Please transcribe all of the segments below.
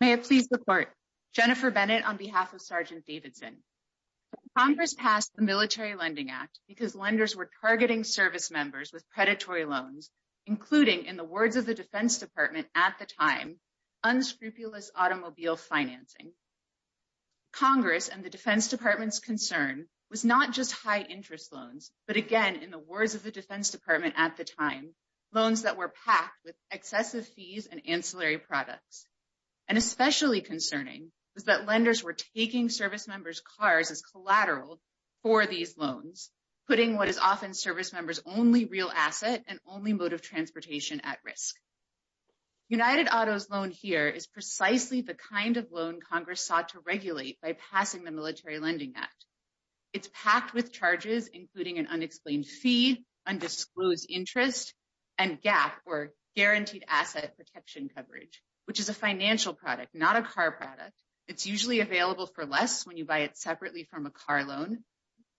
May it please the court. Jennifer Bennett on behalf of Sgt. Davidson. Congress passed the Military Lending Act because lenders were targeting service members with predatory loans, including, in the words of the Defense Department at the time, unscrupulous automobile financing. Congress and the Defense Department's concern was not just high interest loans, but again, in the words of the Defense Department at the time, loans that were packed with excessive fees and ancillary products. And especially concerning was that lenders were taking service members' cars as collateral for these loans, putting what is often service members' only real asset and only mode of transportation at risk. United Auto's loan here is precisely the kind of loan Congress sought to regulate by passing the Military Lending Act. It's packed with charges, including an unexplained fee, undisclosed interest, and GAAP, or Guaranteed Asset Protection Coverage, which is a financial product, not a car product. It's usually available for less when you buy it separately from a car loan.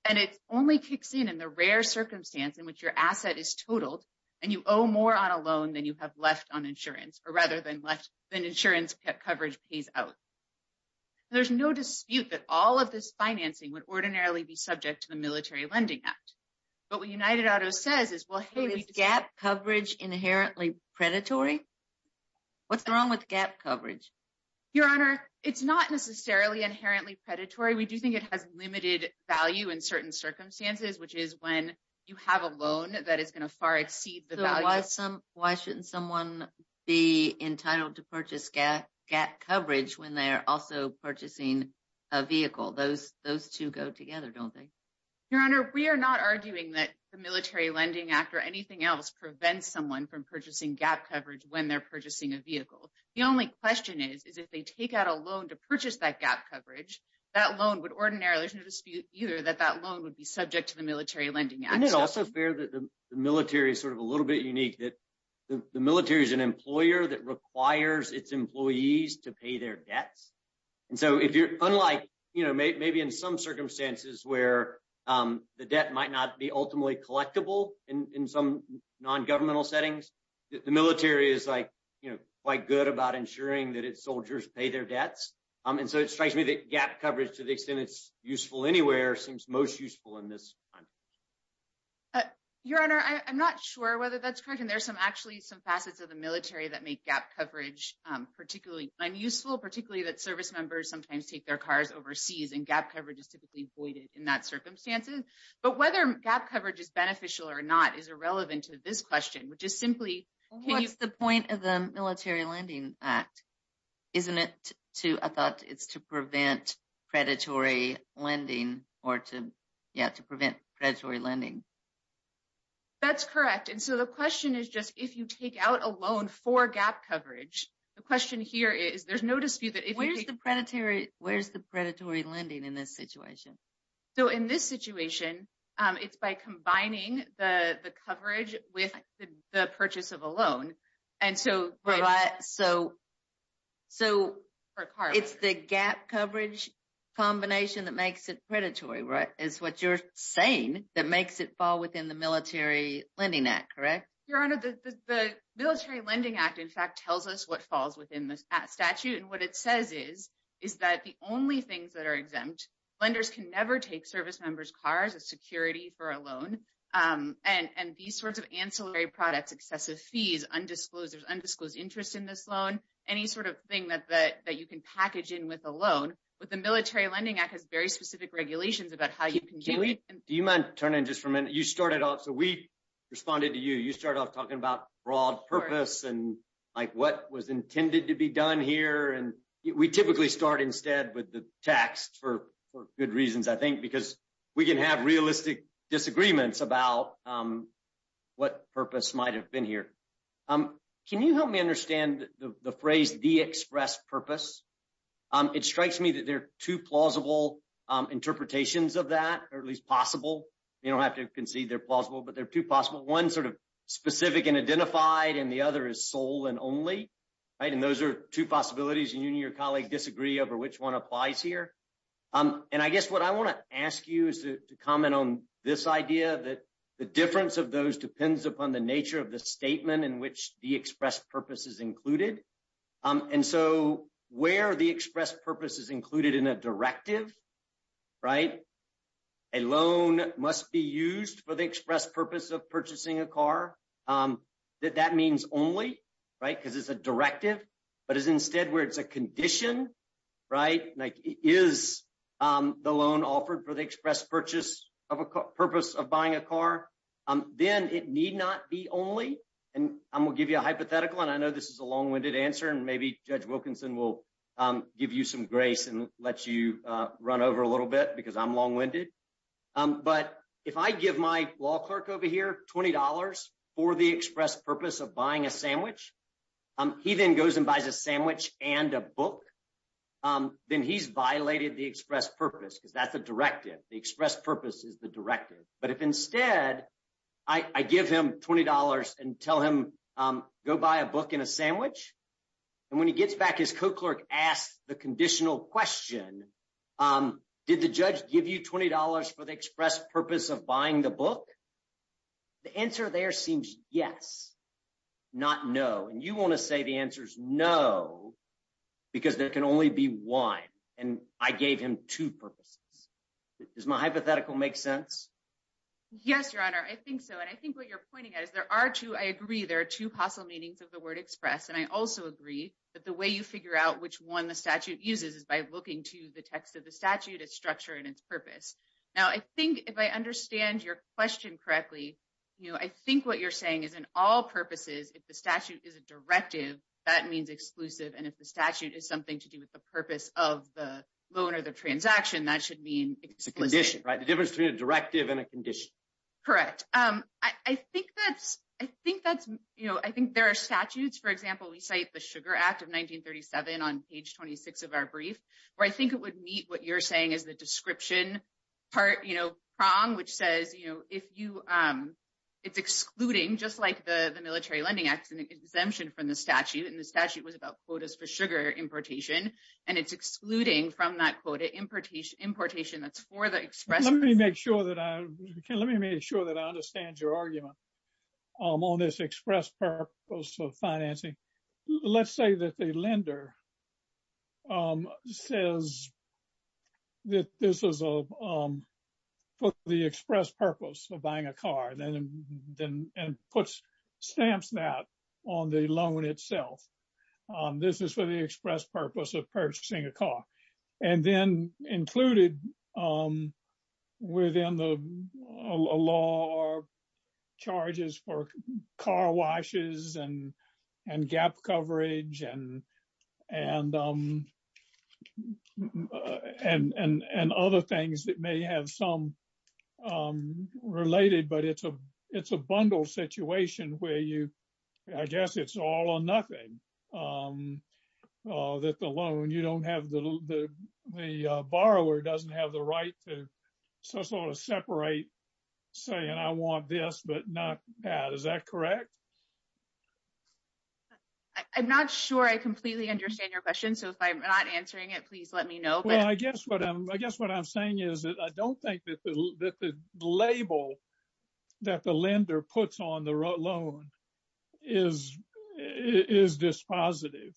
And it only kicks in in the rare circumstance in which your asset is totaled and you owe more on a loan than you have left on insurance, or rather than left than insurance coverage pays out. There's no dispute that all of this financing would What United Auto says is, well, hey, is GAAP coverage inherently predatory? What's wrong with GAAP coverage? Your Honor, it's not necessarily inherently predatory. We do think it has limited value in certain circumstances, which is when you have a loan that is going to far exceed the value. So why shouldn't someone be entitled to purchase GAAP coverage when they're purchasing a vehicle? Those two go together, don't they? Your Honor, we are not arguing that the Military Lending Act or anything else prevents someone from purchasing GAAP coverage when they're purchasing a vehicle. The only question is, is if they take out a loan to purchase that GAAP coverage, that loan would ordinarily, there's no dispute either that that loan would be subject to the Military Lending Act. Isn't it also fair that the military sort of a little bit unique that the military is an employer that requires its employees to pay their debts? And so if you're unlike, you know, maybe in some circumstances where the debt might not be ultimately collectible in some non-governmental settings, the military is like, you know, quite good about ensuring that its soldiers pay their debts. And so it strikes me that GAAP coverage to the extent it's useful anywhere seems most useful in this time. Your Honor, I'm not sure whether that's correct. And there's some actually some facets of the particularly that service members sometimes take their cars overseas and GAAP coverage is typically voided in that circumstances. But whether GAAP coverage is beneficial or not is irrelevant to this question, which is simply- What's the point of the Military Lending Act? Isn't it to, I thought it's to prevent predatory lending or to, yeah, to prevent predatory lending. That's correct. And so the question is just if you take out a loan for GAAP coverage, the question here is there's no dispute that- Where's the predatory, where's the predatory lending in this situation? So in this situation, it's by combining the coverage with the purchase of a loan. And so- So it's the GAAP coverage combination that makes it predatory, right? Is what you're saying that makes it fall within the Military Lending Act, correct? Your Honor, the Military Lending Act, in fact, tells us what falls within the statute. And what it says is, is that the only things that are exempt, lenders can never take service members' cars as security for a loan. And these sorts of ancillary products, excessive fees, undisclosed, there's undisclosed interest in this loan, any sort of thing that you can package in with a loan. But the Military Lending Act has very specific regulations about how you can do it. Do you mind turning just for a minute? You started off, so we responded to you. You started off talking about broad purpose and what was intended to be done here. And we typically start instead with the text for good reasons, I think, because we can have realistic disagreements about what purpose might've been here. Can you help me understand the phrase, the express purpose? It strikes me that there are two plausible interpretations of that, or at least possible. You don't have to concede they're plausible, but they're two possible. One sort of specific and identified, and the other is sole and only, right? And those are two possibilities. And you and your colleague disagree over which one applies here. And I guess what I want to ask you is to comment on this idea that the difference of those depends upon the nature of the statement in which the express purpose is included. And so, where the express purpose is included in a directive, right? A loan must be used for the express purpose of purchasing a car. That means only, right? Because it's a directive, but it's instead where it's a condition, right? Like, is the loan offered for the express purpose of buying a car? Then it need not be only. And I'm going to give you a hypothetical, and I know this is a long-winded answer, and maybe Judge Grayson lets you run over a little bit because I'm long-winded. But if I give my law clerk over here $20 for the express purpose of buying a sandwich, he then goes and buys a sandwich and a book, then he's violated the express purpose because that's a directive. The express purpose is the directive. But if instead, I give him $20 and tell him, go buy a book and a sandwich, and when he gets back, his co-clerk asks the conditional question, did the judge give you $20 for the express purpose of buying the book? The answer there seems yes, not no. And you want to say the answer's no, because there can only be one, and I gave him two purposes. Does my hypothetical make sense? Yes, Your Honor. I think so. And I think what you're pointing at is there are two, I agree, there are two possible meanings of the word express. And I also agree that the way you figure out which one the statute uses is by looking to the text of the statute, its structure, and its purpose. Now, I think if I understand your question correctly, I think what you're saying is in all purposes, if the statute is a directive, that means exclusive. And if the statute is something to do with the purpose of the loan or the transaction, that should mean exclusive. It's a condition, right? The difference between a directive and a condition. Correct. I think that's, you know, I think there are statutes, for example, we cite the Sugar Act of 1937 on page 26 of our brief, where I think it would meet what you're saying is the description part, you know, prong, which says, you know, if you, it's excluding, just like the Military Lending Act is an exemption from the statute, and the statute was about quotas for sugar importation, and it's excluding from that quota importation that's for the express purpose. Let me make sure that I understand your argument on this express purpose of financing. Let's say that the lender says that this is for the express purpose of buying a car, and puts, stamps that on the loan itself. This is for the express purpose of purchasing a car. And then included within the law are charges for car washes and gap coverage and other things that may have some related, but it's a bundle situation where you, I guess it's all or nothing that the loan, you don't have, the borrower doesn't have the right to sort of separate saying I want this, but not that. Is that correct? I'm not sure I completely understand your question. So if I'm not answering it, please let me know. Well, I guess what I'm saying is that I don't think that the label that the lender puts on the loan is dispositive.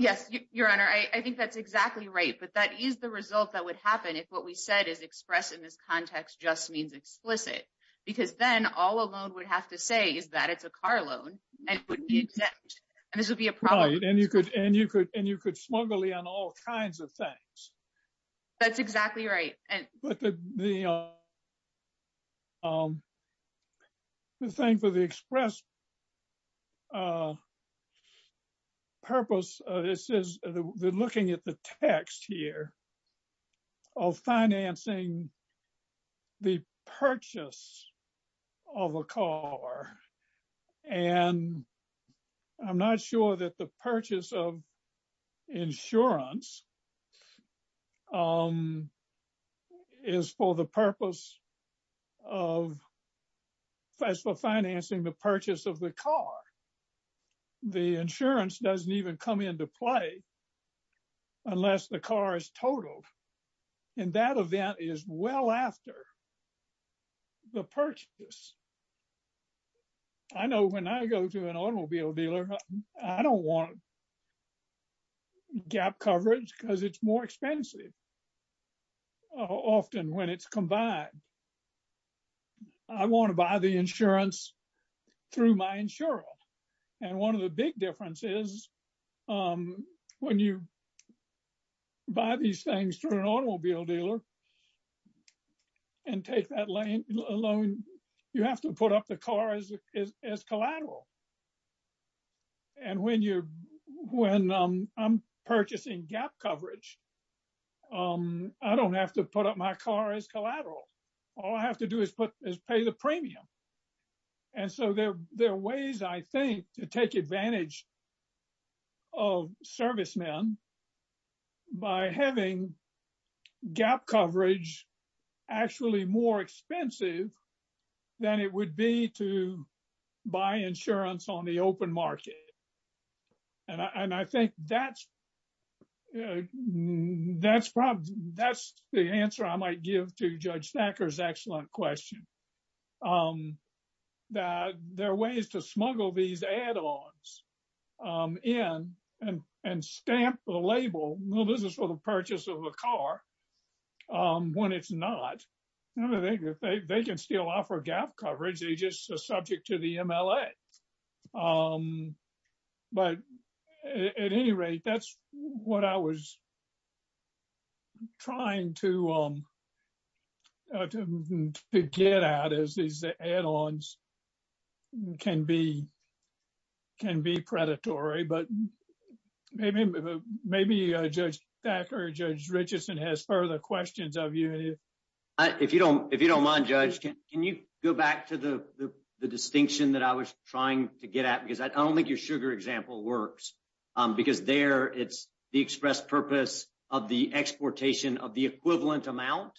Yes, Your Honor. I think that's exactly right, but that is the result that would happen if what we said is expressed in this context just means explicit, because then all a loan would have to say is that it's a car loan, and this would be a problem. Right, and you could smugly on all kinds of things. That's exactly right. But the thing for the express purpose, it says they're looking at the text here of financing the purchase of a car, and I'm not sure that the purchase of insurance is for the purpose of, as for financing the purchase of the car. The insurance doesn't even come into play unless the car is totaled, and that event is well after the purchase. I know when I go to an automobile dealer, I don't want gap coverage because it's more expensive often when it's combined. I want to buy the insurance through my insurance, and one of the big differences is when you buy these things through an automobile dealer and take that loan, you have to put up the car as collateral, and when I'm purchasing gap coverage, I don't have to put up my car as collateral. All I have to do is pay the premium, and so there are ways, I think, to take advantage of servicemen by having gap coverage actually more expensive than it would be to buy insurance on the open market, and I think that's the answer I might give to Judge Stacker's excellent question, that there are ways to smuggle these add-ons in and stamp the label, well, this is for the purchase of a car, when it's not. They can still offer gap coverage. They're just subject to the add-ons can be predatory, but maybe Judge Stacker, Judge Richardson has further questions of you. If you don't mind, Judge, can you go back to the distinction that I was trying to get at, because I don't think your sugar example works, because there it's the express purpose of the equivalent amount,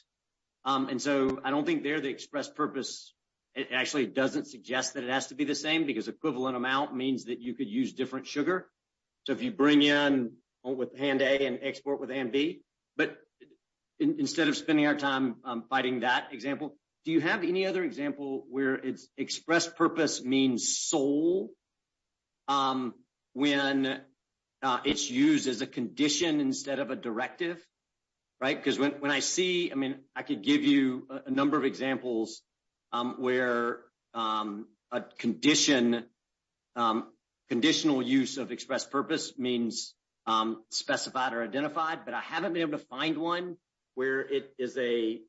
and so I don't think there the express purpose, it actually doesn't suggest that it has to be the same, because equivalent amount means that you could use different sugar. So, if you bring in with hand A and export with hand B, but instead of spending our time fighting that example, do you have any other example where it's express purpose means sole when it's used as a condition instead of a directive, right? Because when I see, I mean, I could give you a number of examples where a condition, conditional use of express purpose means specified or identified, but I haven't been able to find one where it is a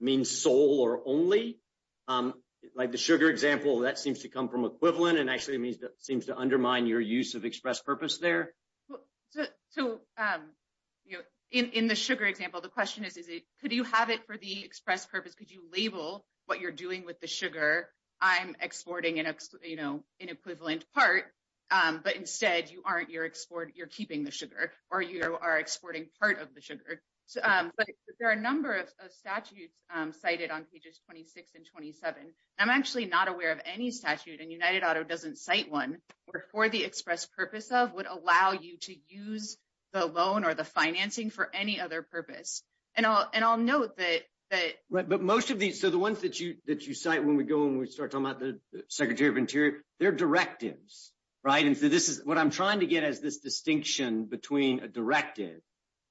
means sole or only. Like the sugar example, that seems to come from equivalent and actually it means that seems to undermine your use of express purpose there. So, in the sugar example, the question is, is it, could you have it for the express purpose? Could you label what you're doing with the sugar? I'm exporting an equivalent part, but instead you aren't, you're keeping the sugar or you are exporting part of the sugar. But there are a number of statutes cited on pages 26 and 27. I'm actually not aware of any statute and United Auto doesn't cite one where for the express purpose of would allow you to use the loan or the financing for any other purpose. And I'll note that- Right, but most of these, so the ones that you cite when we go and we start talking about the secretary of interior, they're directives, right? And so this is what I'm trying to get as this directive,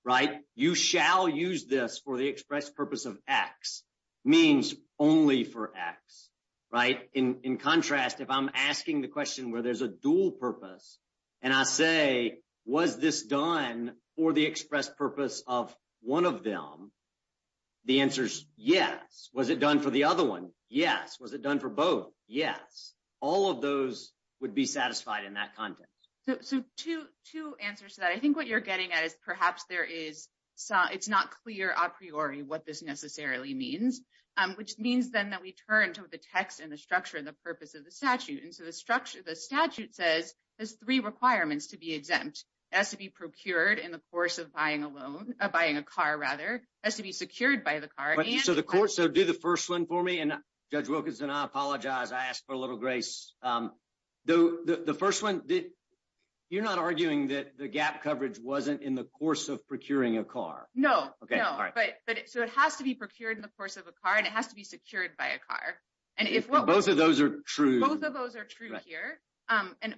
right? You shall use this for the express purpose of X, means only for X, right? In contrast, if I'm asking the question where there's a dual purpose and I say, was this done for the express purpose of one of them? The answer's yes. Was it done for the other one? Yes. Was it done for both? Yes. All of those would be satisfied in that context. So two answers to that. I think what you're getting at is perhaps it's not clear a priori what this necessarily means, which means then that we turn to the text and the structure and the purpose of the statute. And so the statute says there's three requirements to be exempt. It has to be procured in the course of buying a loan, buying a car rather, has to be secured by the car and- So do the first one for me and Judge Wilkinson, I apologize. I asked for a little grace. The first one, you're not arguing that the gap coverage wasn't in the course of procuring a car. No. Okay. All right. So it has to be procured in the course of a car and it has to be secured by a car. And if what- Both of those are true. Both of those are true here.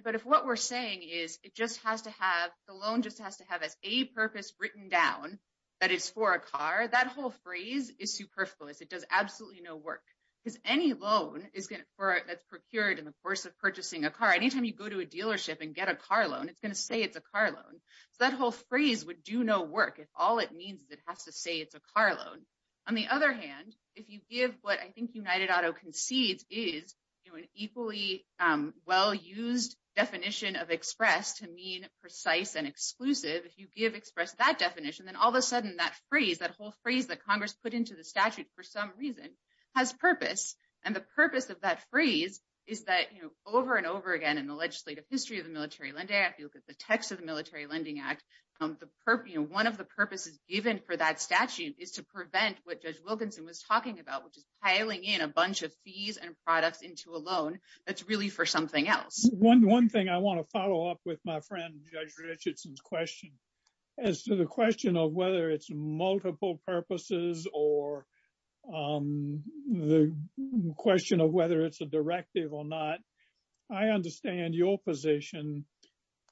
But if what we're saying is it just has to have, the loan just has to have as a purpose written down that it's for a car, that whole phrase is superfluous. It does absolutely no work because any loan that's procured in the course of purchasing a car, anytime you go to a dealership and get a car loan, it's going to say it's a car loan. So that whole phrase would do no work if all it means is it has to say it's a car loan. On the other hand, if you give what I think United Auto concedes is an equally well-used definition of express to mean precise and exclusive, if you give express that definition, then all of a sudden that phrase, that whole phrase that Congress put into the statute for some reason has purpose. And the purpose of that phrase is that over and over again in the legislative history of the Military Lending Act, if you look at the text of the Military Lending Act, one of the purposes given for that statute is to prevent what Judge Wilkinson was talking about, which is piling in a bunch of fees and products into a loan that's really for something else. One thing I want to follow up with my friend, Judge Richardson's question, as to the question of whether it's multiple purposes or the question of whether it's a directive or not, I understand your position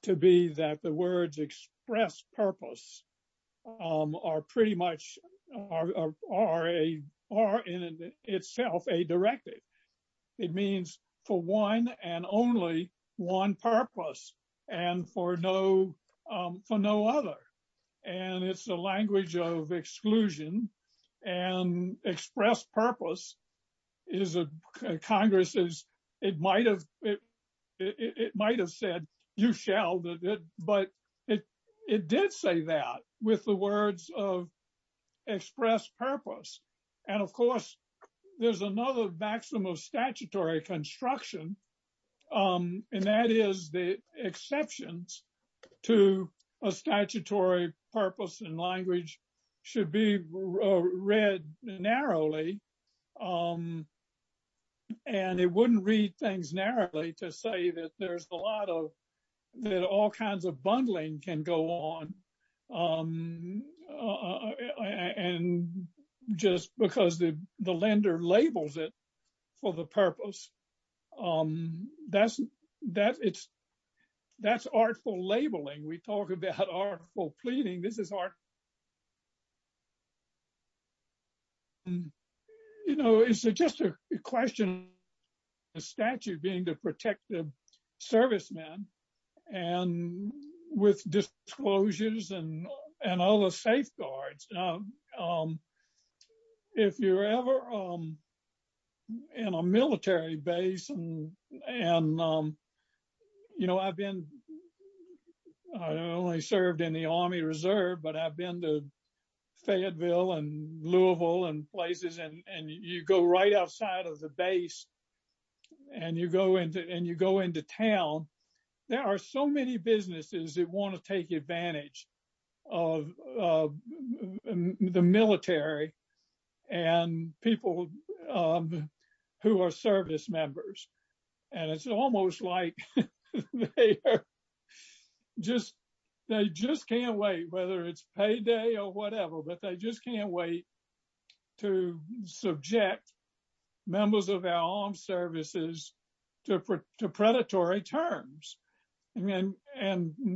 to be that the words express purpose are pretty much are in itself a directive. It means for one and only one purpose and for no other. And it's a language of exclusion and express purpose is a Congress's, it might have said, you shall, but it did say that with the words of express purpose. And of course, there's another maximum of statutory construction. And that is the exceptions to a statutory purpose and language should be read narrowly. And it wouldn't read things narrowly to say that there's a lot of, that all kinds of bundling can go on. And just because the lender labels it for the purpose, that's artful labeling. We talk about artful pleading, this is art. And, you know, it's just a question of the statute being to protect the servicemen and with disclosures and all the safeguards. If you're ever in a military base and, you know, I've been, I only served in the Army Reserve, but I've been to Fayetteville and Louisville and places, and you go right outside of the base and you go into town, there are so many businesses that want to take advantage of the military and people who are service members. And it's almost like they are just, they just can't wait, whether it's payday or whatever, but they just can't wait to subject members of our armed services to predatory terms. And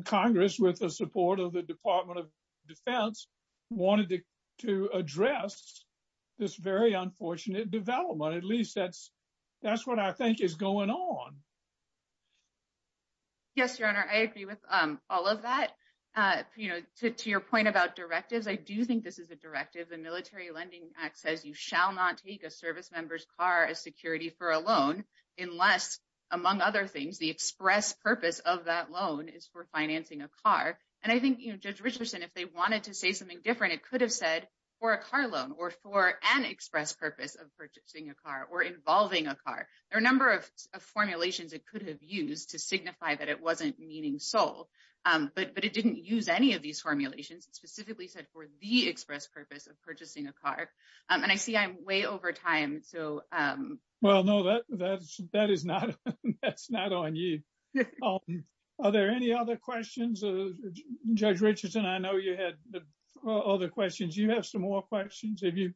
Congress, with the support of the Department of Defense, wanted to address this very unfortunate development. At least that's what I think is going on. Yes, Your Honor, I agree with all of that. You know, to your point about directives, I do think this is a directive. The Military Lending Act says you shall not take a service member's car as security for a loan unless, among other things, the express purpose of that loan is for financing a car. And I think, you know, Judge Richardson, if they wanted to say something different, it could have said for a car loan or for an express purpose of purchasing a car or involving a car. There are a number of formulations it could have used to signify that it wasn't meaning sold, but it didn't use any of these formulations. It specifically said for the express purpose of purchasing a car. And I see I'm way over time, so... Well, no, that's not on you. Are there any other questions? Judge Richardson, I know you had other questions. You have some more questions. Thank you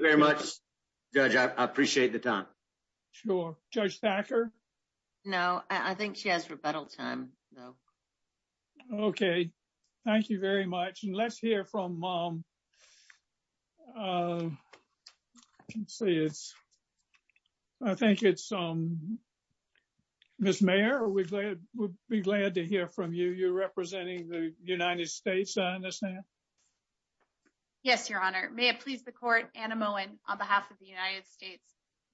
very much, Judge. I appreciate the time. Sure. Judge Thacker? No, I think she has rebuttal time, though. Okay. Thank you very much. And let's hear from... I think it's... Ms. Mayer, we'd be glad to hear from you. You're representing the court. Anna Moen on behalf of the United States.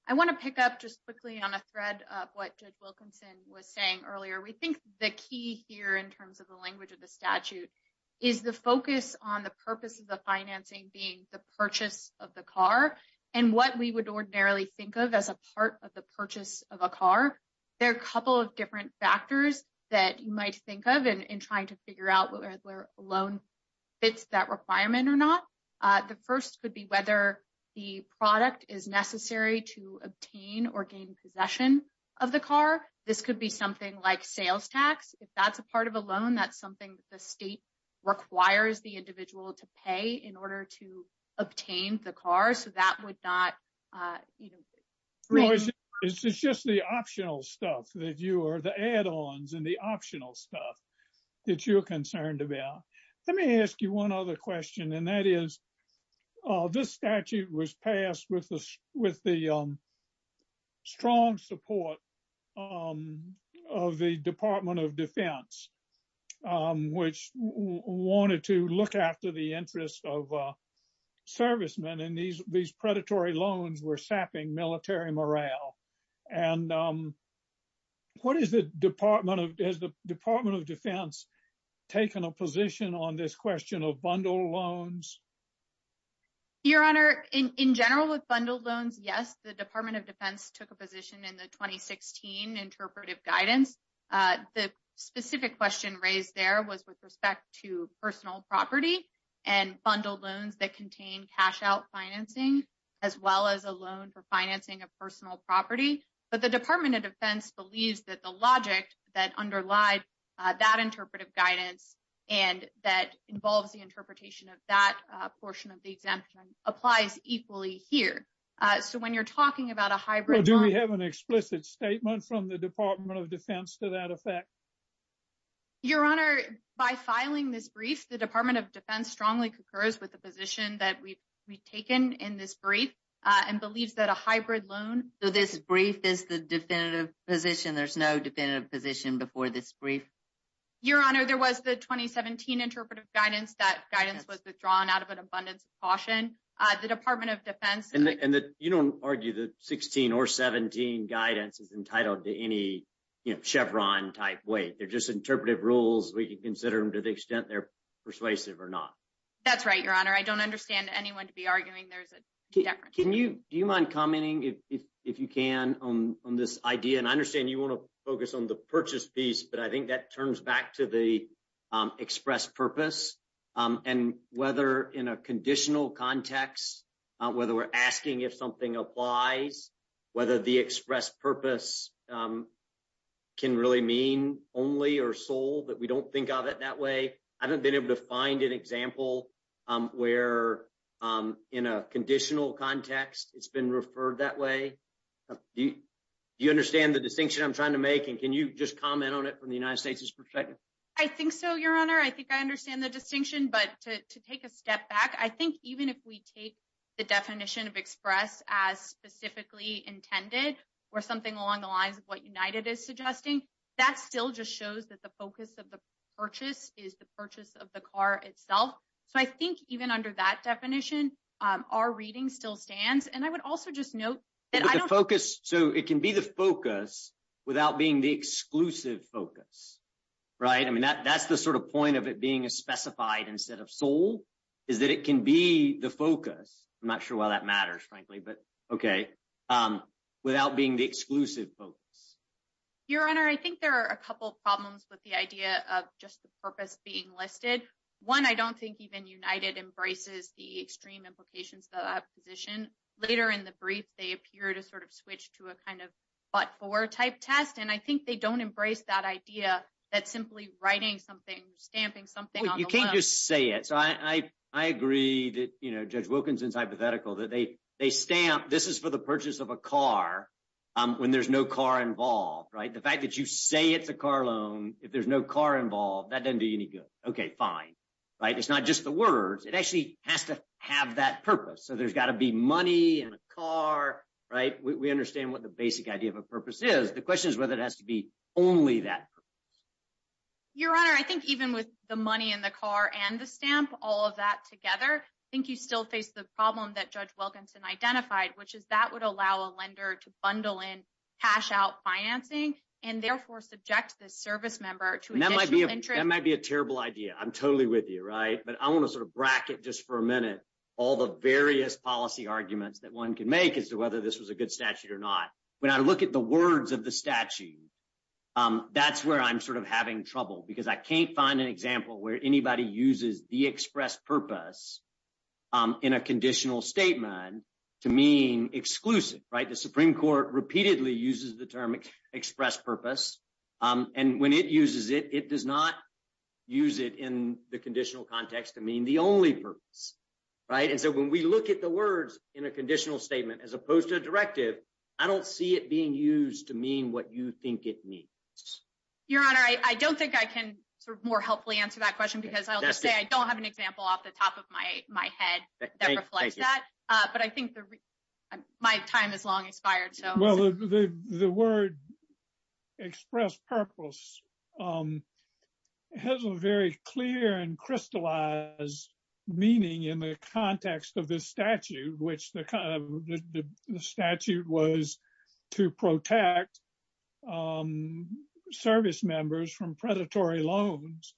I want to pick up just quickly on a thread of what Judge Wilkinson was saying earlier. We think the key here in terms of the language of the statute is the focus on the purpose of the financing being the purchase of the car and what we would ordinarily think of as a part of the purchase of a car. There are a couple of different factors that you might think of in trying to figure out whether a loan fits that requirement or not. The first could be whether the product is necessary to obtain or gain possession of the car. This could be something like sales tax. If that's a part of a loan, that's something that the state requires the individual to pay in order to obtain the car, so that would not... It's just the optional stuff that you are... The add-ons and the optional stuff that you're concerned about. Let me ask you one other question, and that is, this statute was passed with the strong support of the Department of Defense, which wanted to look after the interests of servicemen, and these predatory loans were taken a position on this question of bundled loans? Your Honor, in general with bundled loans, yes, the Department of Defense took a position in the 2016 interpretive guidance. The specific question raised there was with respect to personal property and bundled loans that contain cash-out financing, as well as a loan for financing of personal property. But the Department of Defense believes that the logic that underlied that interpretive guidance and that involves the interpretation of that portion of the exemption applies equally here. So when you're talking about a hybrid loan... Do we have an explicit statement from the Department of Defense to that effect? Your Honor, by filing this brief, the Department of Defense strongly concurs with the position that we've taken in this brief and believes that a brief is the definitive position. There's no definitive position before this brief. Your Honor, there was the 2017 interpretive guidance. That guidance was withdrawn out of an abundance of caution. The Department of Defense... And you don't argue that 16 or 17 guidance is entitled to any Chevron-type weight. They're just interpretive rules. We can consider them to the extent they're persuasive or not. That's right, Your Honor. I don't understand anyone to be arguing there's a difference. Do you mind commenting, if you can, on this idea? And I understand you want to focus on the purchase piece, but I think that turns back to the express purpose and whether in a conditional context, whether we're asking if something applies, whether the express purpose can really mean only or sold that we don't think of it that way. I haven't been able to find an example where in a conditional context, it's been referred that way. Do you understand the distinction I'm trying to make? And can you just comment on it from the United States' perspective? I think so, Your Honor. I think I understand the distinction, but to take a step back, I think even if we take the definition of express as specifically intended or something along the lines of what United is suggesting, that still just shows that focus of the purchase is the purchase of the car itself. So I think even under that definition, our reading still stands. And I would also just note that I don't- The focus, so it can be the focus without being the exclusive focus, right? I mean, that's the sort of point of it being a specified instead of sold, is that it can be the focus. I'm not sure why that matters, frankly, but okay, without being the exclusive focus. Your Honor, I think there are a couple of problems with the idea of just the purpose being listed. One, I don't think even United embraces the extreme implications of that position. Later in the brief, they appear to sort of switch to a kind of but-for type test, and I think they don't embrace that idea that simply writing something, stamping something- You can't just say it. So I agree that Judge Wilkinson's hypothetical that they stamp, this is for the purchase of a car, when there's no car involved, right? The fact that you say it's a car loan, if there's no car involved, that doesn't do you any good. Okay, fine, right? It's not just the words. It actually has to have that purpose. So there's got to be money and a car, right? We understand what the basic idea of a purpose is. The question is whether it has to be only that purpose. Your Honor, I think even with the money and the car and the stamp, all of that together, I think you still face the problem that Judge Wilkinson identified, which is that would allow a lender to bundle in cash-out financing and therefore subject the service member to additional interest. That might be a terrible idea. I'm totally with you, right? But I want to sort of bracket just for a minute all the various policy arguments that one can make as to whether this was a good statute or not. When I look at the words of the statute, that's where I'm sort of having trouble, because I can't find an example where anybody uses the express purpose in a conditional statement to mean exclusive, right? The Supreme Court repeatedly uses the term express purpose, and when it uses it, it does not use it in the conditional context to mean the only purpose, right? And so when we look at the words in a conditional statement as opposed to a directive, I don't see it being used to mean what you think it means. Your Honor, I don't think I can sort of more helpfully answer that question, because I'll just say I don't have an example off the top of my head that reflects that, but I think my time has long expired. Well, the word express purpose has a very clear and crystallized meaning in the context of this statute, which the statute was to protect service members from predatory loans.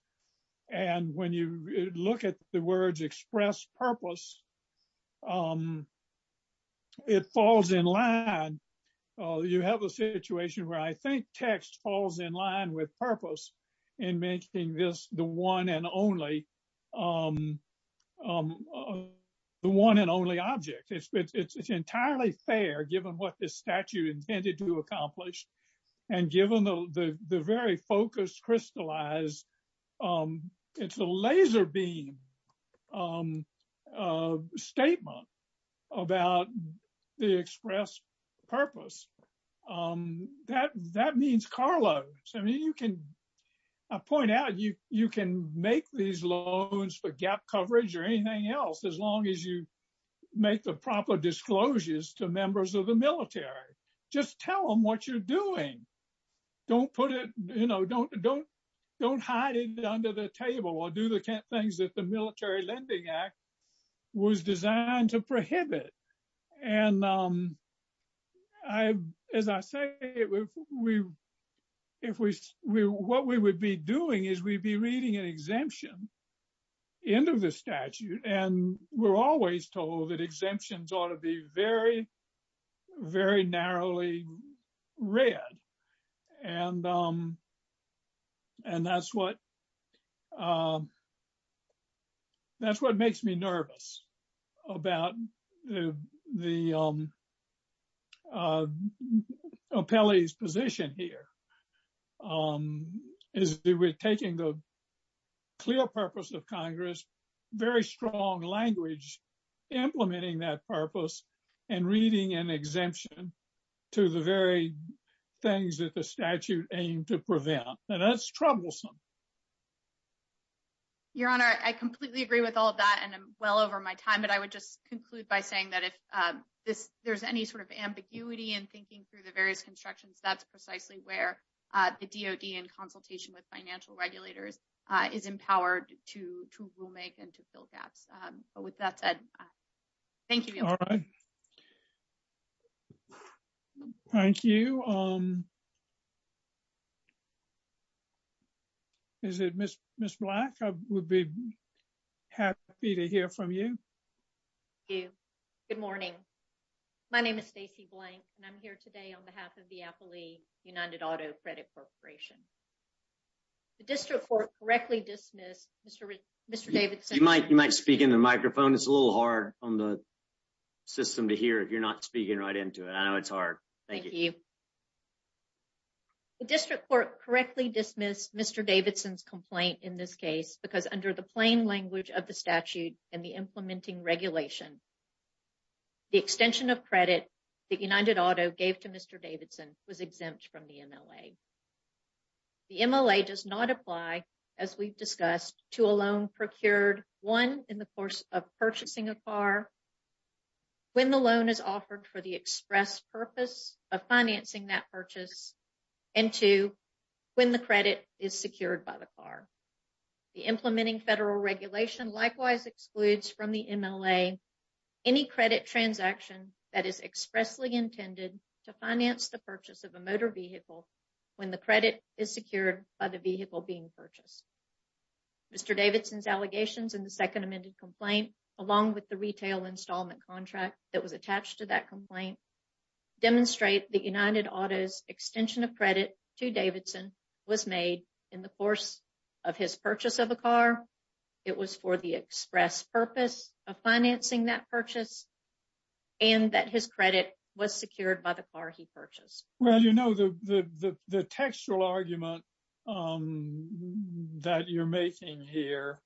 And when you look at the words express purpose, it falls in line. You have a situation where I think text falls in line with purpose in making this the one and only object. It's entirely fair, given what this statute intended to accomplish, and given the very focused, crystallized, it's a laser beam statement about the express purpose. That means car loans. I mean, you can, I point out, you can make these loans for gap coverage or anything else, as long as you make the proper disclosures to members of the military. Just tell them what you're doing. Don't put it, you know, don't hide it under the table or do the things that the Military Lending Act was designed to prohibit. And as I say, what we would be doing is we'd be reading an exemption into the statute. And we're always told that exemptions ought to be very, very narrowly read. And that's what makes me nervous about the appellee's position here, um, is that we're taking the clear purpose of Congress, very strong language, implementing that purpose, and reading an exemption to the very things that the statute aimed to prevent. And that's troublesome. Your Honor, I completely agree with all of that. And I'm well over my time. But I would just conclude by saying that if there's any sort of ambiguity in thinking through the various constructions, that's precisely where the DoD in consultation with financial regulators is empowered to rule make and to fill gaps. But with that said, thank you. All right. Thank you. Is it Ms. Black? I would be happy to hear from you. Thank you. Good morning. My name is Stacey Blank, and I'm here today on behalf of the Appellee United Auto Credit Corporation. The District Court correctly dismissed Mr. Davidson. You might speak in the microphone. It's a little hard on the system to hear if you're not speaking right into it. I know it's hard. Thank you. The District Court correctly dismissed Mr. Davidson's complaint in this case because under the plain language of the statute and the implementing regulation, the extension of credit that United Auto gave to Mr. Davidson was exempt from the MLA. The MLA does not apply, as we've discussed, to a loan procured, one, in the course of purchasing a car, when the loan is offered for the express purpose of financing that purchase, and two, when the credit is secured by the car. The implementing federal regulation likewise excludes from the MLA any credit transaction that is expressly intended to finance the purchase of a motor vehicle when the credit is secured by the vehicle being purchased. Mr. Davidson's allegations in the second amended complaint, along with the retail installment contract that was made in the course of his purchase of a car, it was for the express purpose of financing that purchase and that his credit was secured by the car he purchased. Well, you know, the textual argument that you're making here,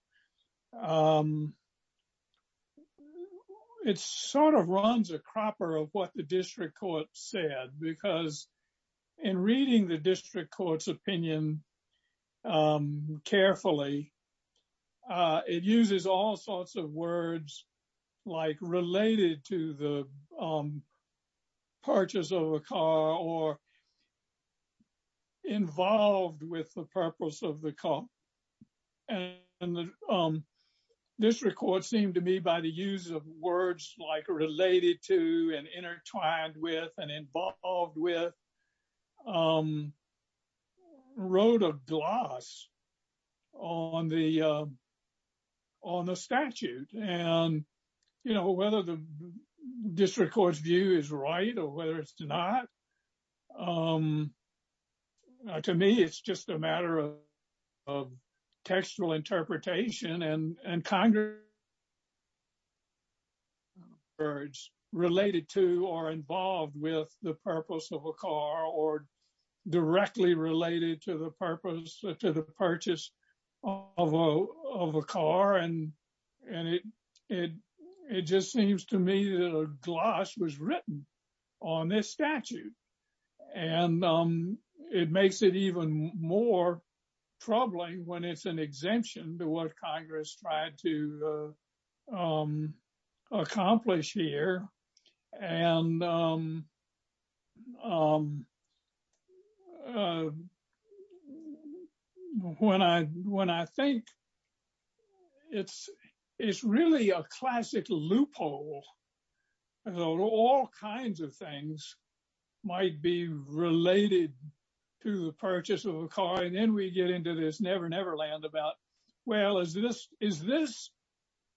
it sort of runs a cropper of what the district court said, because in reading the district court's opinion carefully, it uses all sorts of words like related to the purchase of a car or involved with the purpose of the car. And the district court seemed to me by the use of words like related to and intertwined with and involved with wrote a gloss on the statute. And, you know, whether the district court's view is right or whether it's not, to me, it's just a matter of textual interpretation and Congress related to or involved with the purpose of a car or directly related to the purpose to the purchase of a car. And it just seems to me that a gloss was written on this statute. And it makes it even more troubling when it's an exemption to what Congress tried to when I think it's really a classic loophole. All kinds of things might be related to the purchase of a car. And then we get into this never, never land about, well, is this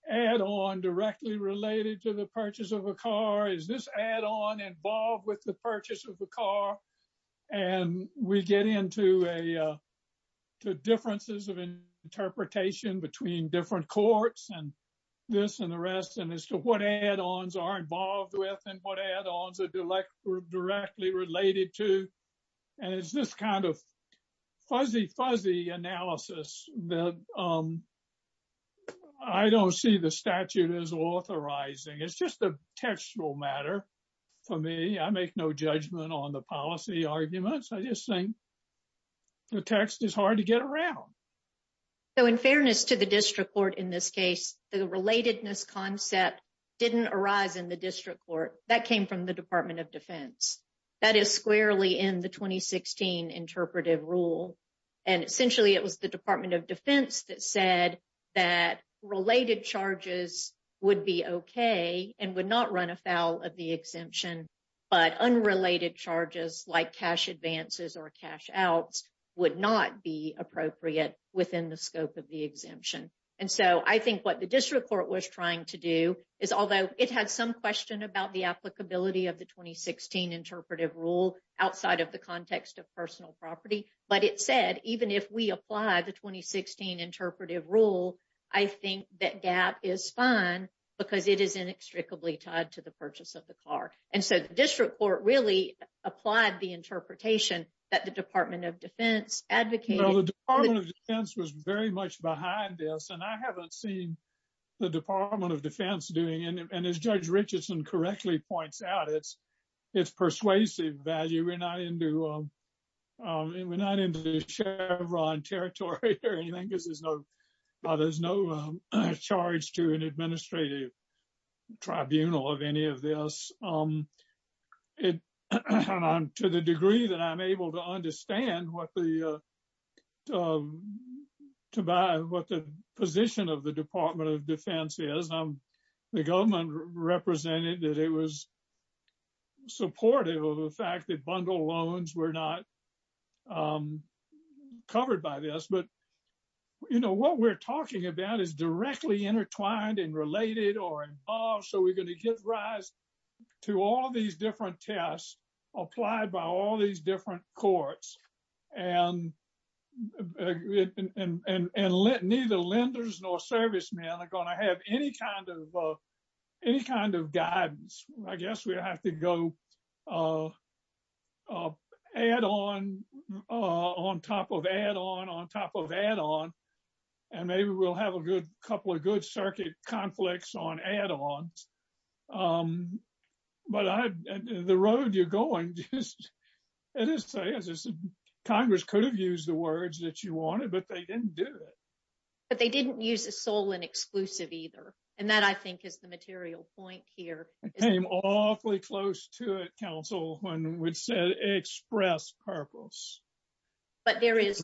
add on directly related to the purchase of a car? Is this add on involved with the purchase of a car? And we get into differences of interpretation between different courts and this and the rest and as to what add ons are involved with and what add ons are directly related to. And it's this kind of fuzzy, fuzzy analysis that I don't see the for me, I make no judgment on the policy arguments. I just think the text is hard to get around. So in fairness to the district court, in this case, the relatedness concept didn't arise in the district court that came from the Department of Defense. That is squarely in the 2016 interpretive rule. And essentially, it was the Department of Defense that said that related charges would be okay and would not run afoul of the exemption. But unrelated charges like cash advances or cash outs would not be appropriate within the scope of the exemption. And so I think what the district court was trying to do is although it had some question about the applicability of the 2016 interpretive rule outside of the context of personal property, but it said even if we apply the 2016 interpretive rule, I think that gap is fine because it is inextricably tied to the purchase of the car. And so the district court really applied the interpretation that the Department of Defense advocated. The Department of Defense was very much behind this and I haven't seen the Department of Defense doing and as Judge Richardson correctly points out, it's persuasive value. We're not into Chevron territory or anything because there's no charge to an administrative tribunal of any of this. To the degree that I'm able to understand what the position of the Department of Defense is, the government represented that it was supportive of the fact that bundle loans were not covered by this. But what we're talking about is directly intertwined and related or involved. So we're going to give rise to all these different tests applied by all these different courts and let neither lenders nor servicemen are going to have any kind of guidance, I guess we'll have to go on top of add-on on top of add-on and maybe we'll have a good couple of good circuit conflicts on add-ons. But the road you're going, Congress could have used the words that you wanted, but they didn't do it. But they didn't use a sole and exclusive either. And that I think is the material point here. Awfully close to it, counsel, when we said express purpose. There have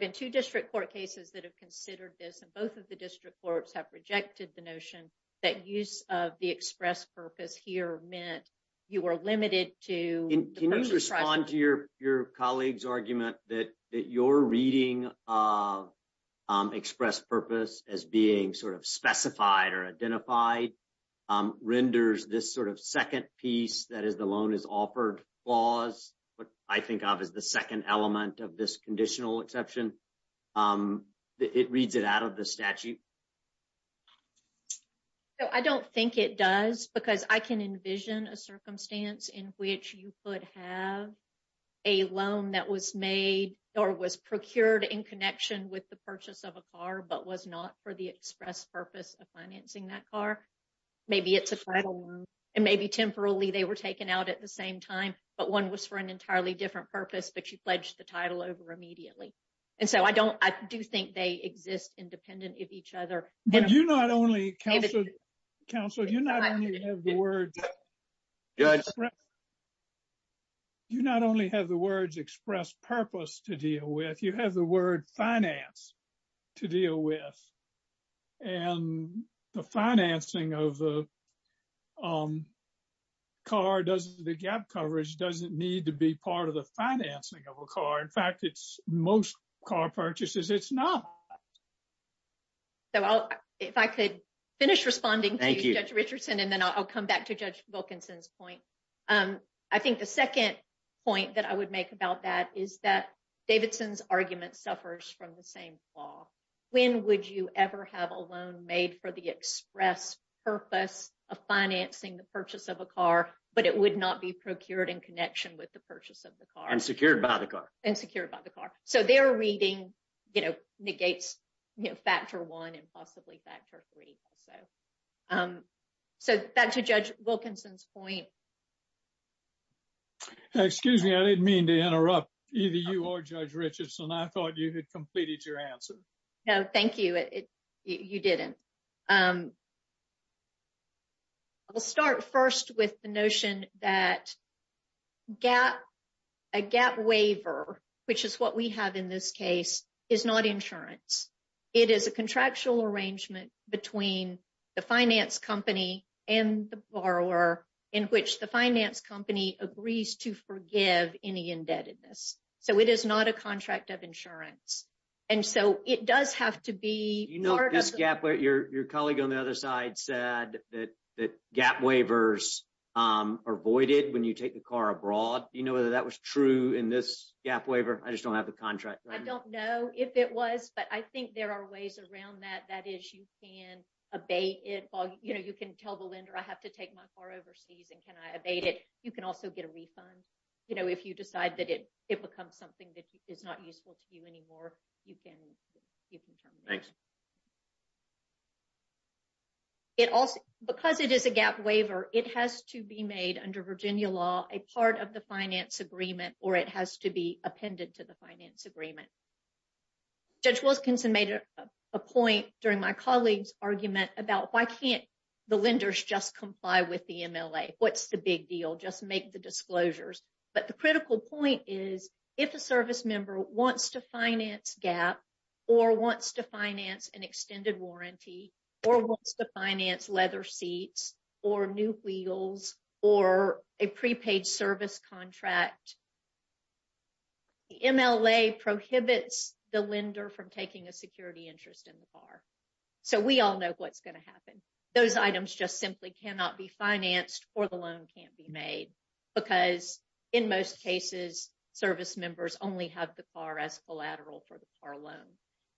been two district court cases that have considered this, and both of the district courts have rejected the notion that use of the express purpose here meant you were limited to- Can you respond to your colleague's argument that you're reading of express purpose as being sort of specified or identified renders this sort of second piece, that is the loan is offered clause, what I think of as the second element of this conditional exception. It reads it out of the statute. I don't think it does because I can envision a circumstance in which you could have a loan that was made or was procured in connection with the purchase of a car, but was not for the express purpose of financing that car. Maybe it's a title loan, and maybe temporarily they were taken out at the same time, but one was for an entirely different purpose, but you pledged the title over immediately. And so I do think they exist independent of each other. But you not only, counsel, you not only have the words express purpose to deal with, you have the word finance to deal with. And the financing of the car does the gap coverage doesn't need to be part of the financing of a car. In fact, it's most car purchases, it's not. So if I could finish responding, thank you, Judge Richardson, and then I'll come back to Judge Wilkinson's point. I think the second point that I would make about that is that Davidson's argument suffers from the same flaw. When would you ever have a loan made for the express purpose of financing the purchase of a car, but it would not be procured in connection with the purchase of the car. And secured by the car. And secured by the car. So they're reading, you know, negates factor one and possibly factor three. So back to Judge Wilkinson's point. Excuse me, I didn't mean to interrupt. Either you or Judge Richardson, I thought you had completed your answer. No, thank you. You didn't. I'll start first with the notion that a gap waiver, which is what we have in this case, is not insurance. It is a contractual arrangement between the finance company and the borrower, in which the finance company agrees to forgive any indebtedness. So it is not a contract of insurance. Your colleague on the other side said that gap waivers are voided when you take the car abroad. Do you know whether that was true in this gap waiver? I just don't have the contract. I don't know if it was, but I think there are ways around that. That is, you can abate it. You know, you can tell the lender I have to take my car overseas and can I abate it? You can also get a refund. You know, if you decide that it becomes something that is not useful to you anymore, you can terminate. Thanks. It also, because it is a gap waiver, it has to be made under Virginia law, a part of the finance agreement, or it has to be appended to the finance agreement. Judge Wilkinson made a point during my colleague's argument about why can't the lenders just comply with the MLA? What's the big deal? Just make the disclosures. But the critical point is if a service member wants to finance gap or wants to finance an or wants to finance leather seats or new wheels or a prepaid service contract, the MLA prohibits the lender from taking a security interest in the car. So we all know what's going to happen. Those items just simply cannot be financed or the loan can't be made because in most cases, service members only have the car as collateral for the car loan.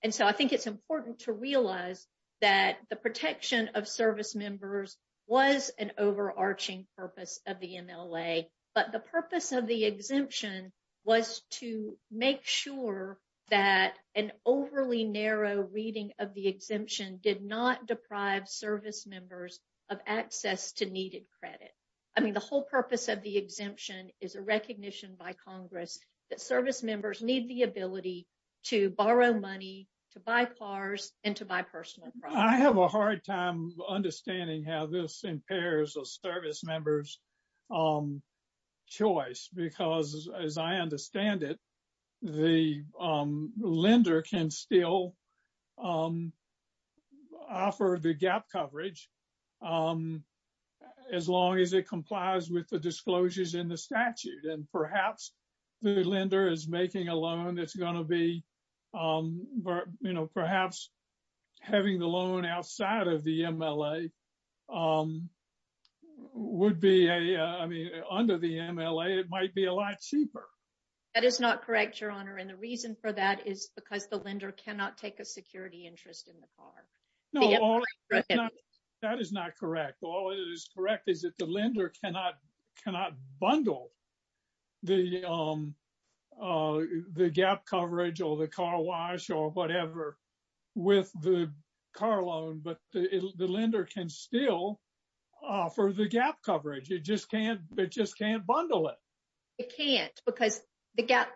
And so I think it's important to realize that the protection of service members was an overarching purpose of the MLA. But the purpose of the exemption was to make sure that an overly narrow reading of the exemption did not deprive service members of access to needed credit. I mean, the whole purpose of the exemption is a recognition by Congress that service members need the ability to borrow money, to buy cars and to buy personal property. I have a hard time understanding how this impairs a service member's choice because as I understand it, the lender can still offer the gap coverage as long as it complies with the disclosures in the statute. And perhaps the lender is making a loan that's going to be perhaps having the loan outside of the MLA would be, I mean, under the MLA, it might be a lot cheaper. That is not correct, Your Honor. And the reason for that is because the lender cannot take a security interest in the car. No, that is not correct. All that is correct is that the lender cannot bundle the gap coverage or the car wash or whatever with the car loan, but the lender can still offer the gap coverage. It just can't bundle it. It can't because the gap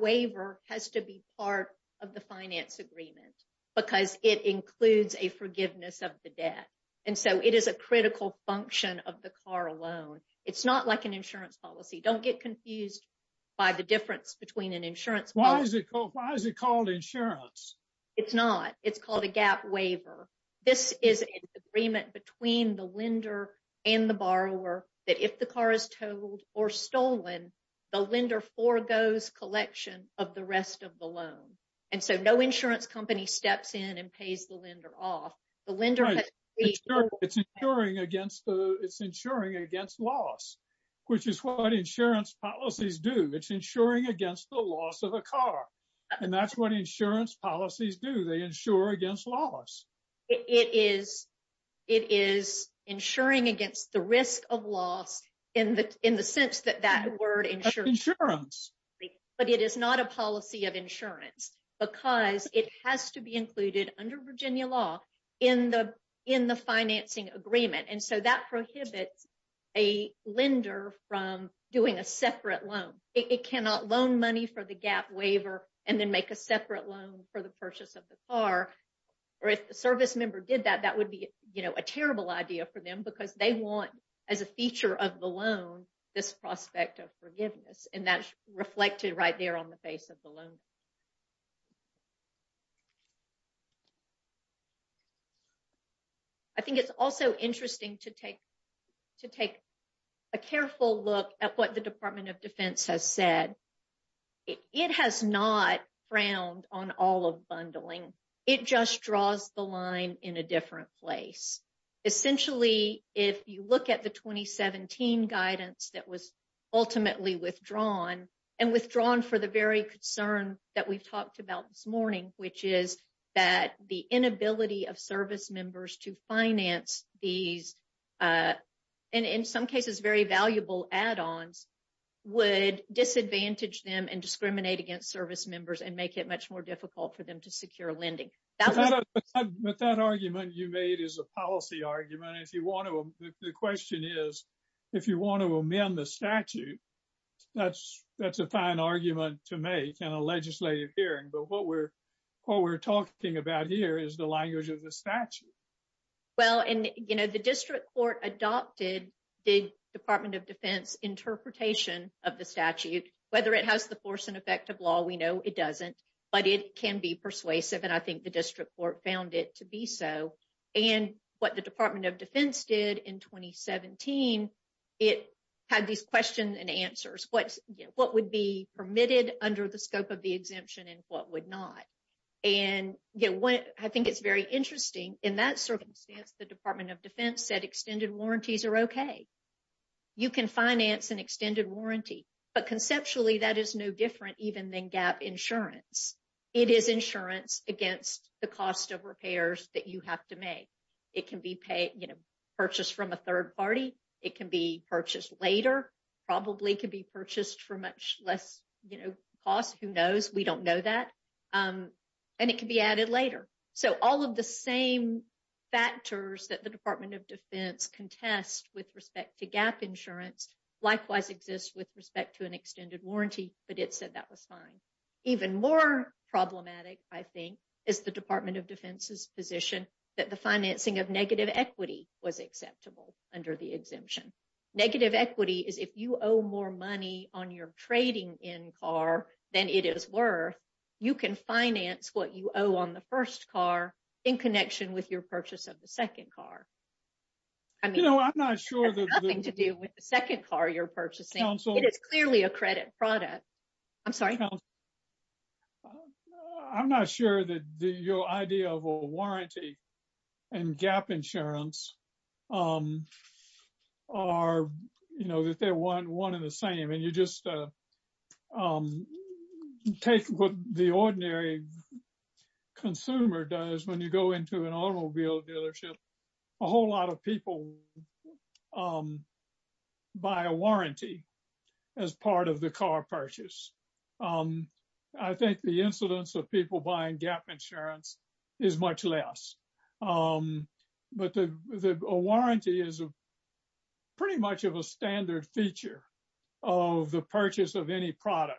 waiver has to be part of the finance agreement because it includes a forgiveness of the debt. And so it is a critical function of the car loan. It's not like an insurance policy. Don't get confused by the difference between an insurance policy. Why is it called insurance? It's not. It's called a gap waiver. This is an agreement between the lender and the borrower that if the car is towed or stolen, the lender forgoes collection of the rest of the loan. And so no insurance company steps in and pays the lender off. Right. It's insuring against loss, which is what insurance policies do. It's insuring against the loss of a car. And that's what insurance policies do. They insure against loss. It is insuring against the risk of loss in the sense that that word insures. Insurance. But it is not a policy of insurance because it has to be included under Virginia law in the financing agreement. And so that prohibits a lender from doing a separate loan. It cannot loan money for the gap waiver and then make a separate loan for the purchase of the car. Or if the service member did that, that would be a terrible idea for them because they want as a feature of the loan, this prospect of forgiveness, and that's reflected right there on the face of the loan. I think it's also interesting to take a careful look at what the Department of Defense has said. It has not frowned on all of bundling. It just draws the line in a different place. Essentially, if you look at the 2017 guidance that was ultimately withdrawn, and withdrawn for the very concern that we've talked about this morning, which is that the inability of service members to finance these, and in some cases, very valuable add-ons, would disadvantage them and discriminate against service members and make it much difficult for them to secure lending. But that argument you made is a policy argument. The question is, if you want to amend the statute, that's a fine argument to make in a legislative hearing. But what we're talking about here is the language of the statute. Well, and the district court adopted the Department of Defense interpretation of the statute. It can be persuasive, and I think the district court found it to be so. And what the Department of Defense did in 2017, it had these questions and answers. What would be permitted under the scope of the exemption and what would not? And I think it's very interesting. In that circumstance, the Department of Defense said extended warranties are okay. You can finance an extended warranty. But conceptually, that is no different even than insurance. It is insurance against the cost of repairs that you have to make. It can be purchased from a third party. It can be purchased later, probably could be purchased for much less cost. Who knows? We don't know that. And it can be added later. So all of the same factors that the Department of Defense contest with respect to gap insurance, likewise exists with respect to an extended warranty, but it said that was fine. Even more problematic, I think, is the Department of Defense's position that the financing of negative equity was acceptable under the exemption. Negative equity is if you owe more money on your trading in car than it is worth, you can finance what you owe on the first car in connection with the second car. It has nothing to do with the second car you're purchasing. It is clearly a credit product. I'm sorry? I'm not sure that your idea of a warranty and gap insurance are one and the same. And you just take what the ordinary consumer does when you go into an automobile dealership. A whole lot of people buy a warranty as part of the car purchase. I think the incidence of people buying gap insurance is much less. But a warranty is pretty much of a standard feature of the purchase of any product.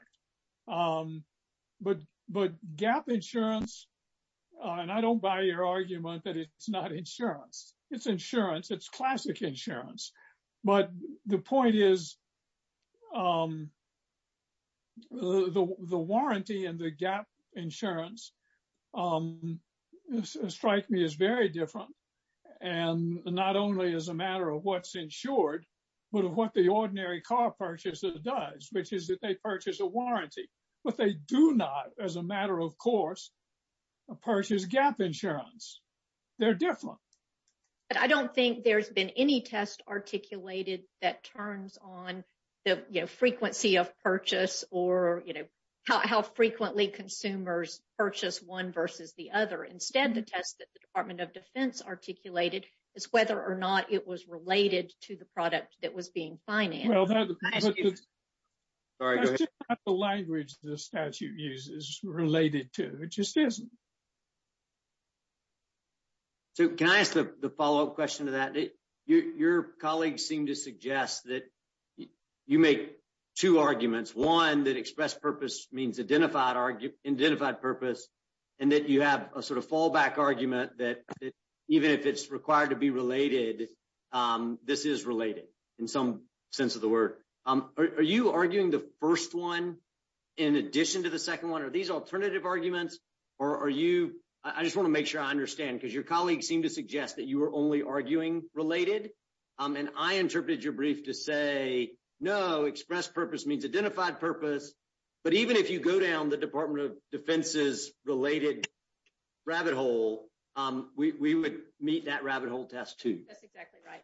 But gap insurance, and I don't buy your argument that it's not insurance. It's insurance. It's classic insurance. But the point is, the warranty and the gap insurance strike me as very different. And not only as a matter of what's insured, but of what the ordinary car purchaser does, which is that they purchase a warranty. But they do not, as a matter of course, purchase gap insurance. They're different. But I don't think there's been any test articulated that turns on the frequency of purchase or how frequently consumers purchase one versus the other. Instead, the test that the Department of Defense articulated is whether or not it was or not. It's just not the language the statute uses related to. It just isn't. So, can I ask the follow-up question to that? Your colleagues seem to suggest that you make two arguments. One, that expressed purpose means identified purpose. And that you have a sort of fallback argument that even if it's required to be related, this is related in some sense of the word. Are you arguing the first one in addition to the second one? Are these alternative arguments? Or are you... I just want to make sure I understand because your colleagues seem to suggest that you are only arguing related. And I interpreted your brief to say, no, expressed purpose means identified purpose. But even if you go down the Department of Defense's related rabbit hole, we would meet that rabbit hole test too. That's exactly right.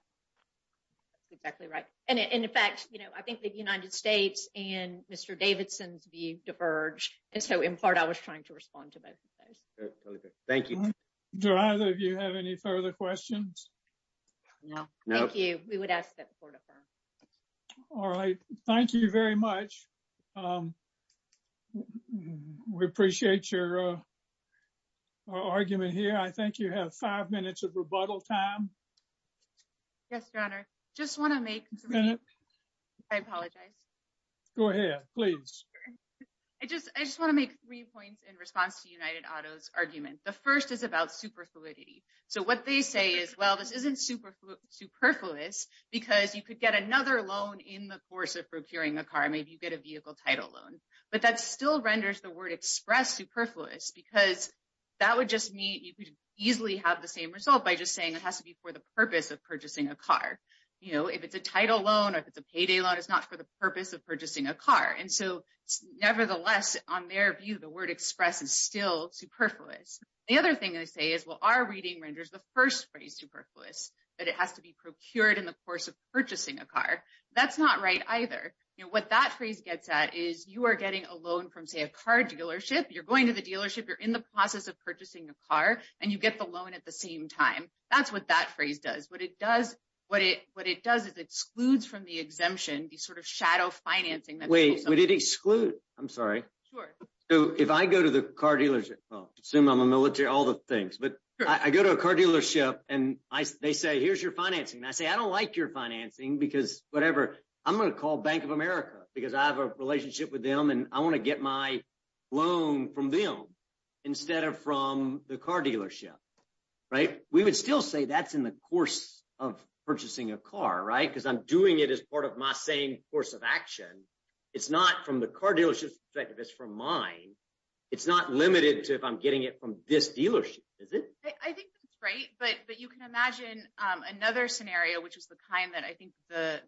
That's exactly right. And in fact, I think the United States and Mr. Davidson's view diverged. And so, in part, I was trying to respond to both of those. Thank you. Do either of you have any further questions? No. Thank you. We would ask that the court affirm. All right. Thank you very much. We appreciate your argument here. I think you have five minutes of rebuttal time. Yes, Your Honor. I just want to make... I apologize. Go ahead, please. I just want to make three points in response to United Auto's argument. The first is about superfluidity. So what they say is, well, this isn't superfluous because you could get another loan in the course of procuring a car. Maybe you get a vehicle title loan. But that still renders the word express superfluous because that would just mean you could easily have the same result by just saying it has to be for the purpose of purchasing a car. If it's a title loan, or if it's a payday loan, it's not for the purpose of purchasing a car. And so, nevertheless, on their view, the word express is still superfluous. The other thing they say is, well, our reading renders the first phrase superfluous, that it has to be procured in the course of purchasing a car. That's not right either. What that phrase gets at is you are getting a loan from, say, a car dealership. You're going to the dealership, you're in the process of purchasing a car, and you get the loan at the same time. That's what that phrase does. What it does is it excludes from the exemption, the sort of shadow financing that... Wait, what did exclude? I'm sorry. Sure. So if I go to the car dealership... Well, assume I'm a military, all the things. But I go to a car dealership and they say, here's your financing. And I say, I don't like your financing because whatever. I'm going to call Bank of America because I have a relationship with them and I want to get my loan from them instead of from the car dealership. We would still say that's in the course of purchasing a car, right? Because I'm doing it as part of my same course of action. It's not from the car dealership's perspective, it's from mine. It's not limited to if I'm getting it from this dealership, is it? I think that's right. But you can imagine another scenario, which is the kind that I think the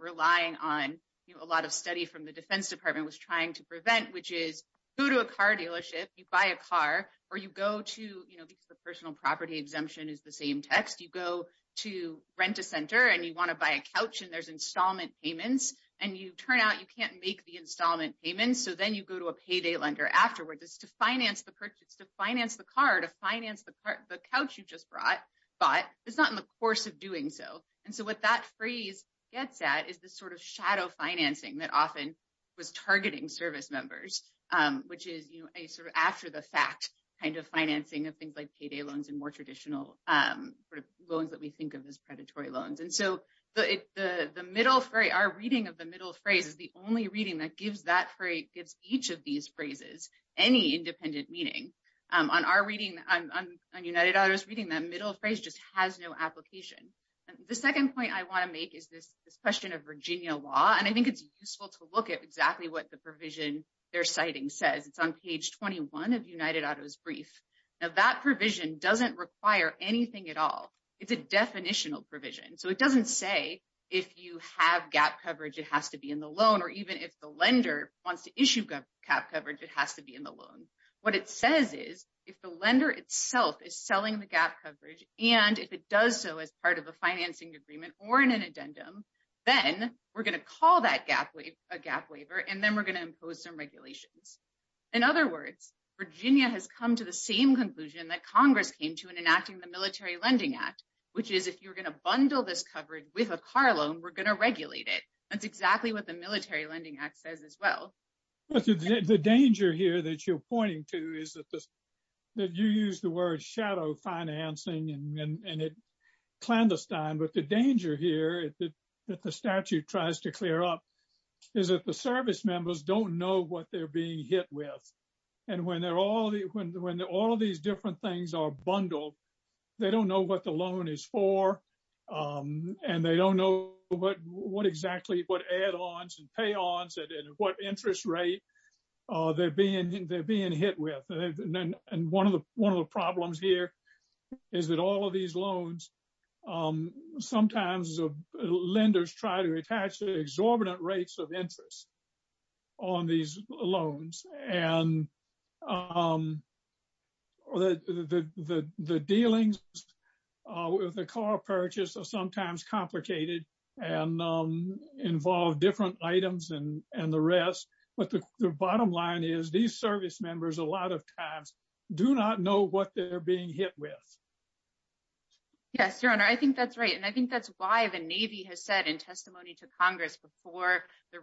relying on a lot of study from the defense department was trying to prevent, which is go to a car dealership, you buy a car or you go to... Because the personal property exemption is the same text. You go to rent a center and you want to buy a couch and there's installment payments and you turn out you can't make the installment payments. So then you go to a payday lender afterwards. It's to finance the purchase, to finance the car, to finance the couch you just bought. It's not in the course of doing so. And so what that phrase gets at is this sort of shadow financing that often was targeting service members, which is a sort of after the fact kind of financing of things like payday loans and more traditional loans that we think of as predatory loans. And so our reading of the middle phrase is the only reading that gives each of these phrases any independent meaning. On our reading, on United Auto's reading, that middle phrase just has no application. The second point I want to make is this question of Virginia law. And I think it's useful to look at exactly what the provision they're citing says. It's on page 21 of United Auto's brief. Now that provision doesn't require anything at all. It's a definitional provision. So it doesn't say if you have gap coverage, it has to be in the loan, or even if the lender wants to issue gap coverage, it has to be in the loan. What it says is if the lender itself is selling the gap coverage, and if it does so as part of a financing agreement or in an addendum, then we're going to call that gap waiver, and then we're going to impose some regulations. In other words, Virginia has come to the same conclusion that Congress came to in enacting the Military Lending Act, which is if you're going to bundle this coverage with a car loan, we're going to regulate it. That's exactly what the Military Lending Act says as well. The danger here that you're pointing to is that you use the word shadow financing and clandestine. But the danger here that the statute tries to clear up is that the service members don't know what they're being hit with. And when all of these different things are bundled, they don't know what the loan is for, and they don't know exactly what add-ons and pay-ons and what interest rate they're being hit with. One of the problems here is that all of these loans, sometimes lenders try to attach exorbitant rates of interest on these loans. And the dealings with the car purchase are sometimes complicated and involve different items and the rest. But the bottom line is these service members a lot of times do not know what they're being hit with. Yes, Your Honor, I think that's right. And I think that's why the Navy has said in testimony to Congress before the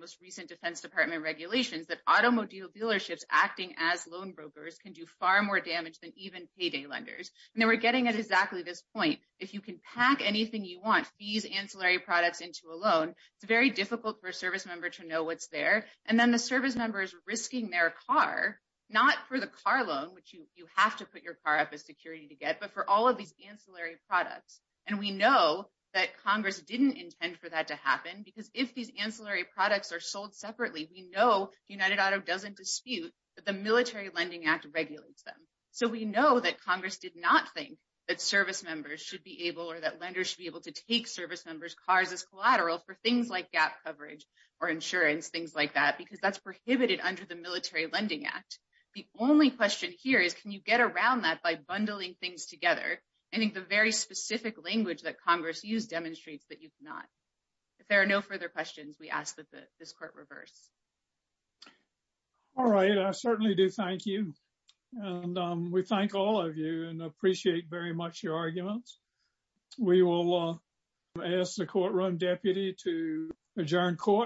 most recent Defense Department regulations that automobile dealerships acting as loan brokers can do far more damage than even payday lenders. And then we're getting at exactly this point. If you can pack anything you want, fees, ancillary products into a loan, it's very difficult for a service member to know what's there. And then the service members risking their car, not for the car loan, which you have to put your car up as security to get, but for all of these ancillary products. And we know that Congress didn't intend for that to happen, because if these ancillary products are sold separately, we know United Auto doesn't dispute that the Military Lending Act regulates them. So we know that Congress did not think that service members should be able or that lenders should be able to take service members' cars as collateral for things like gap coverage or insurance, things like that, because that's prohibited under the Military Lending Act. The only question here is, can you get around that by bundling things together? I think the very specific language that Congress used demonstrates that you cannot. If there are no further questions, we ask that this court reverse. All right. I certainly do thank you. And we thank all of you and appreciate very much your arguments. We will ask the Courtroom Deputy to adjourn court.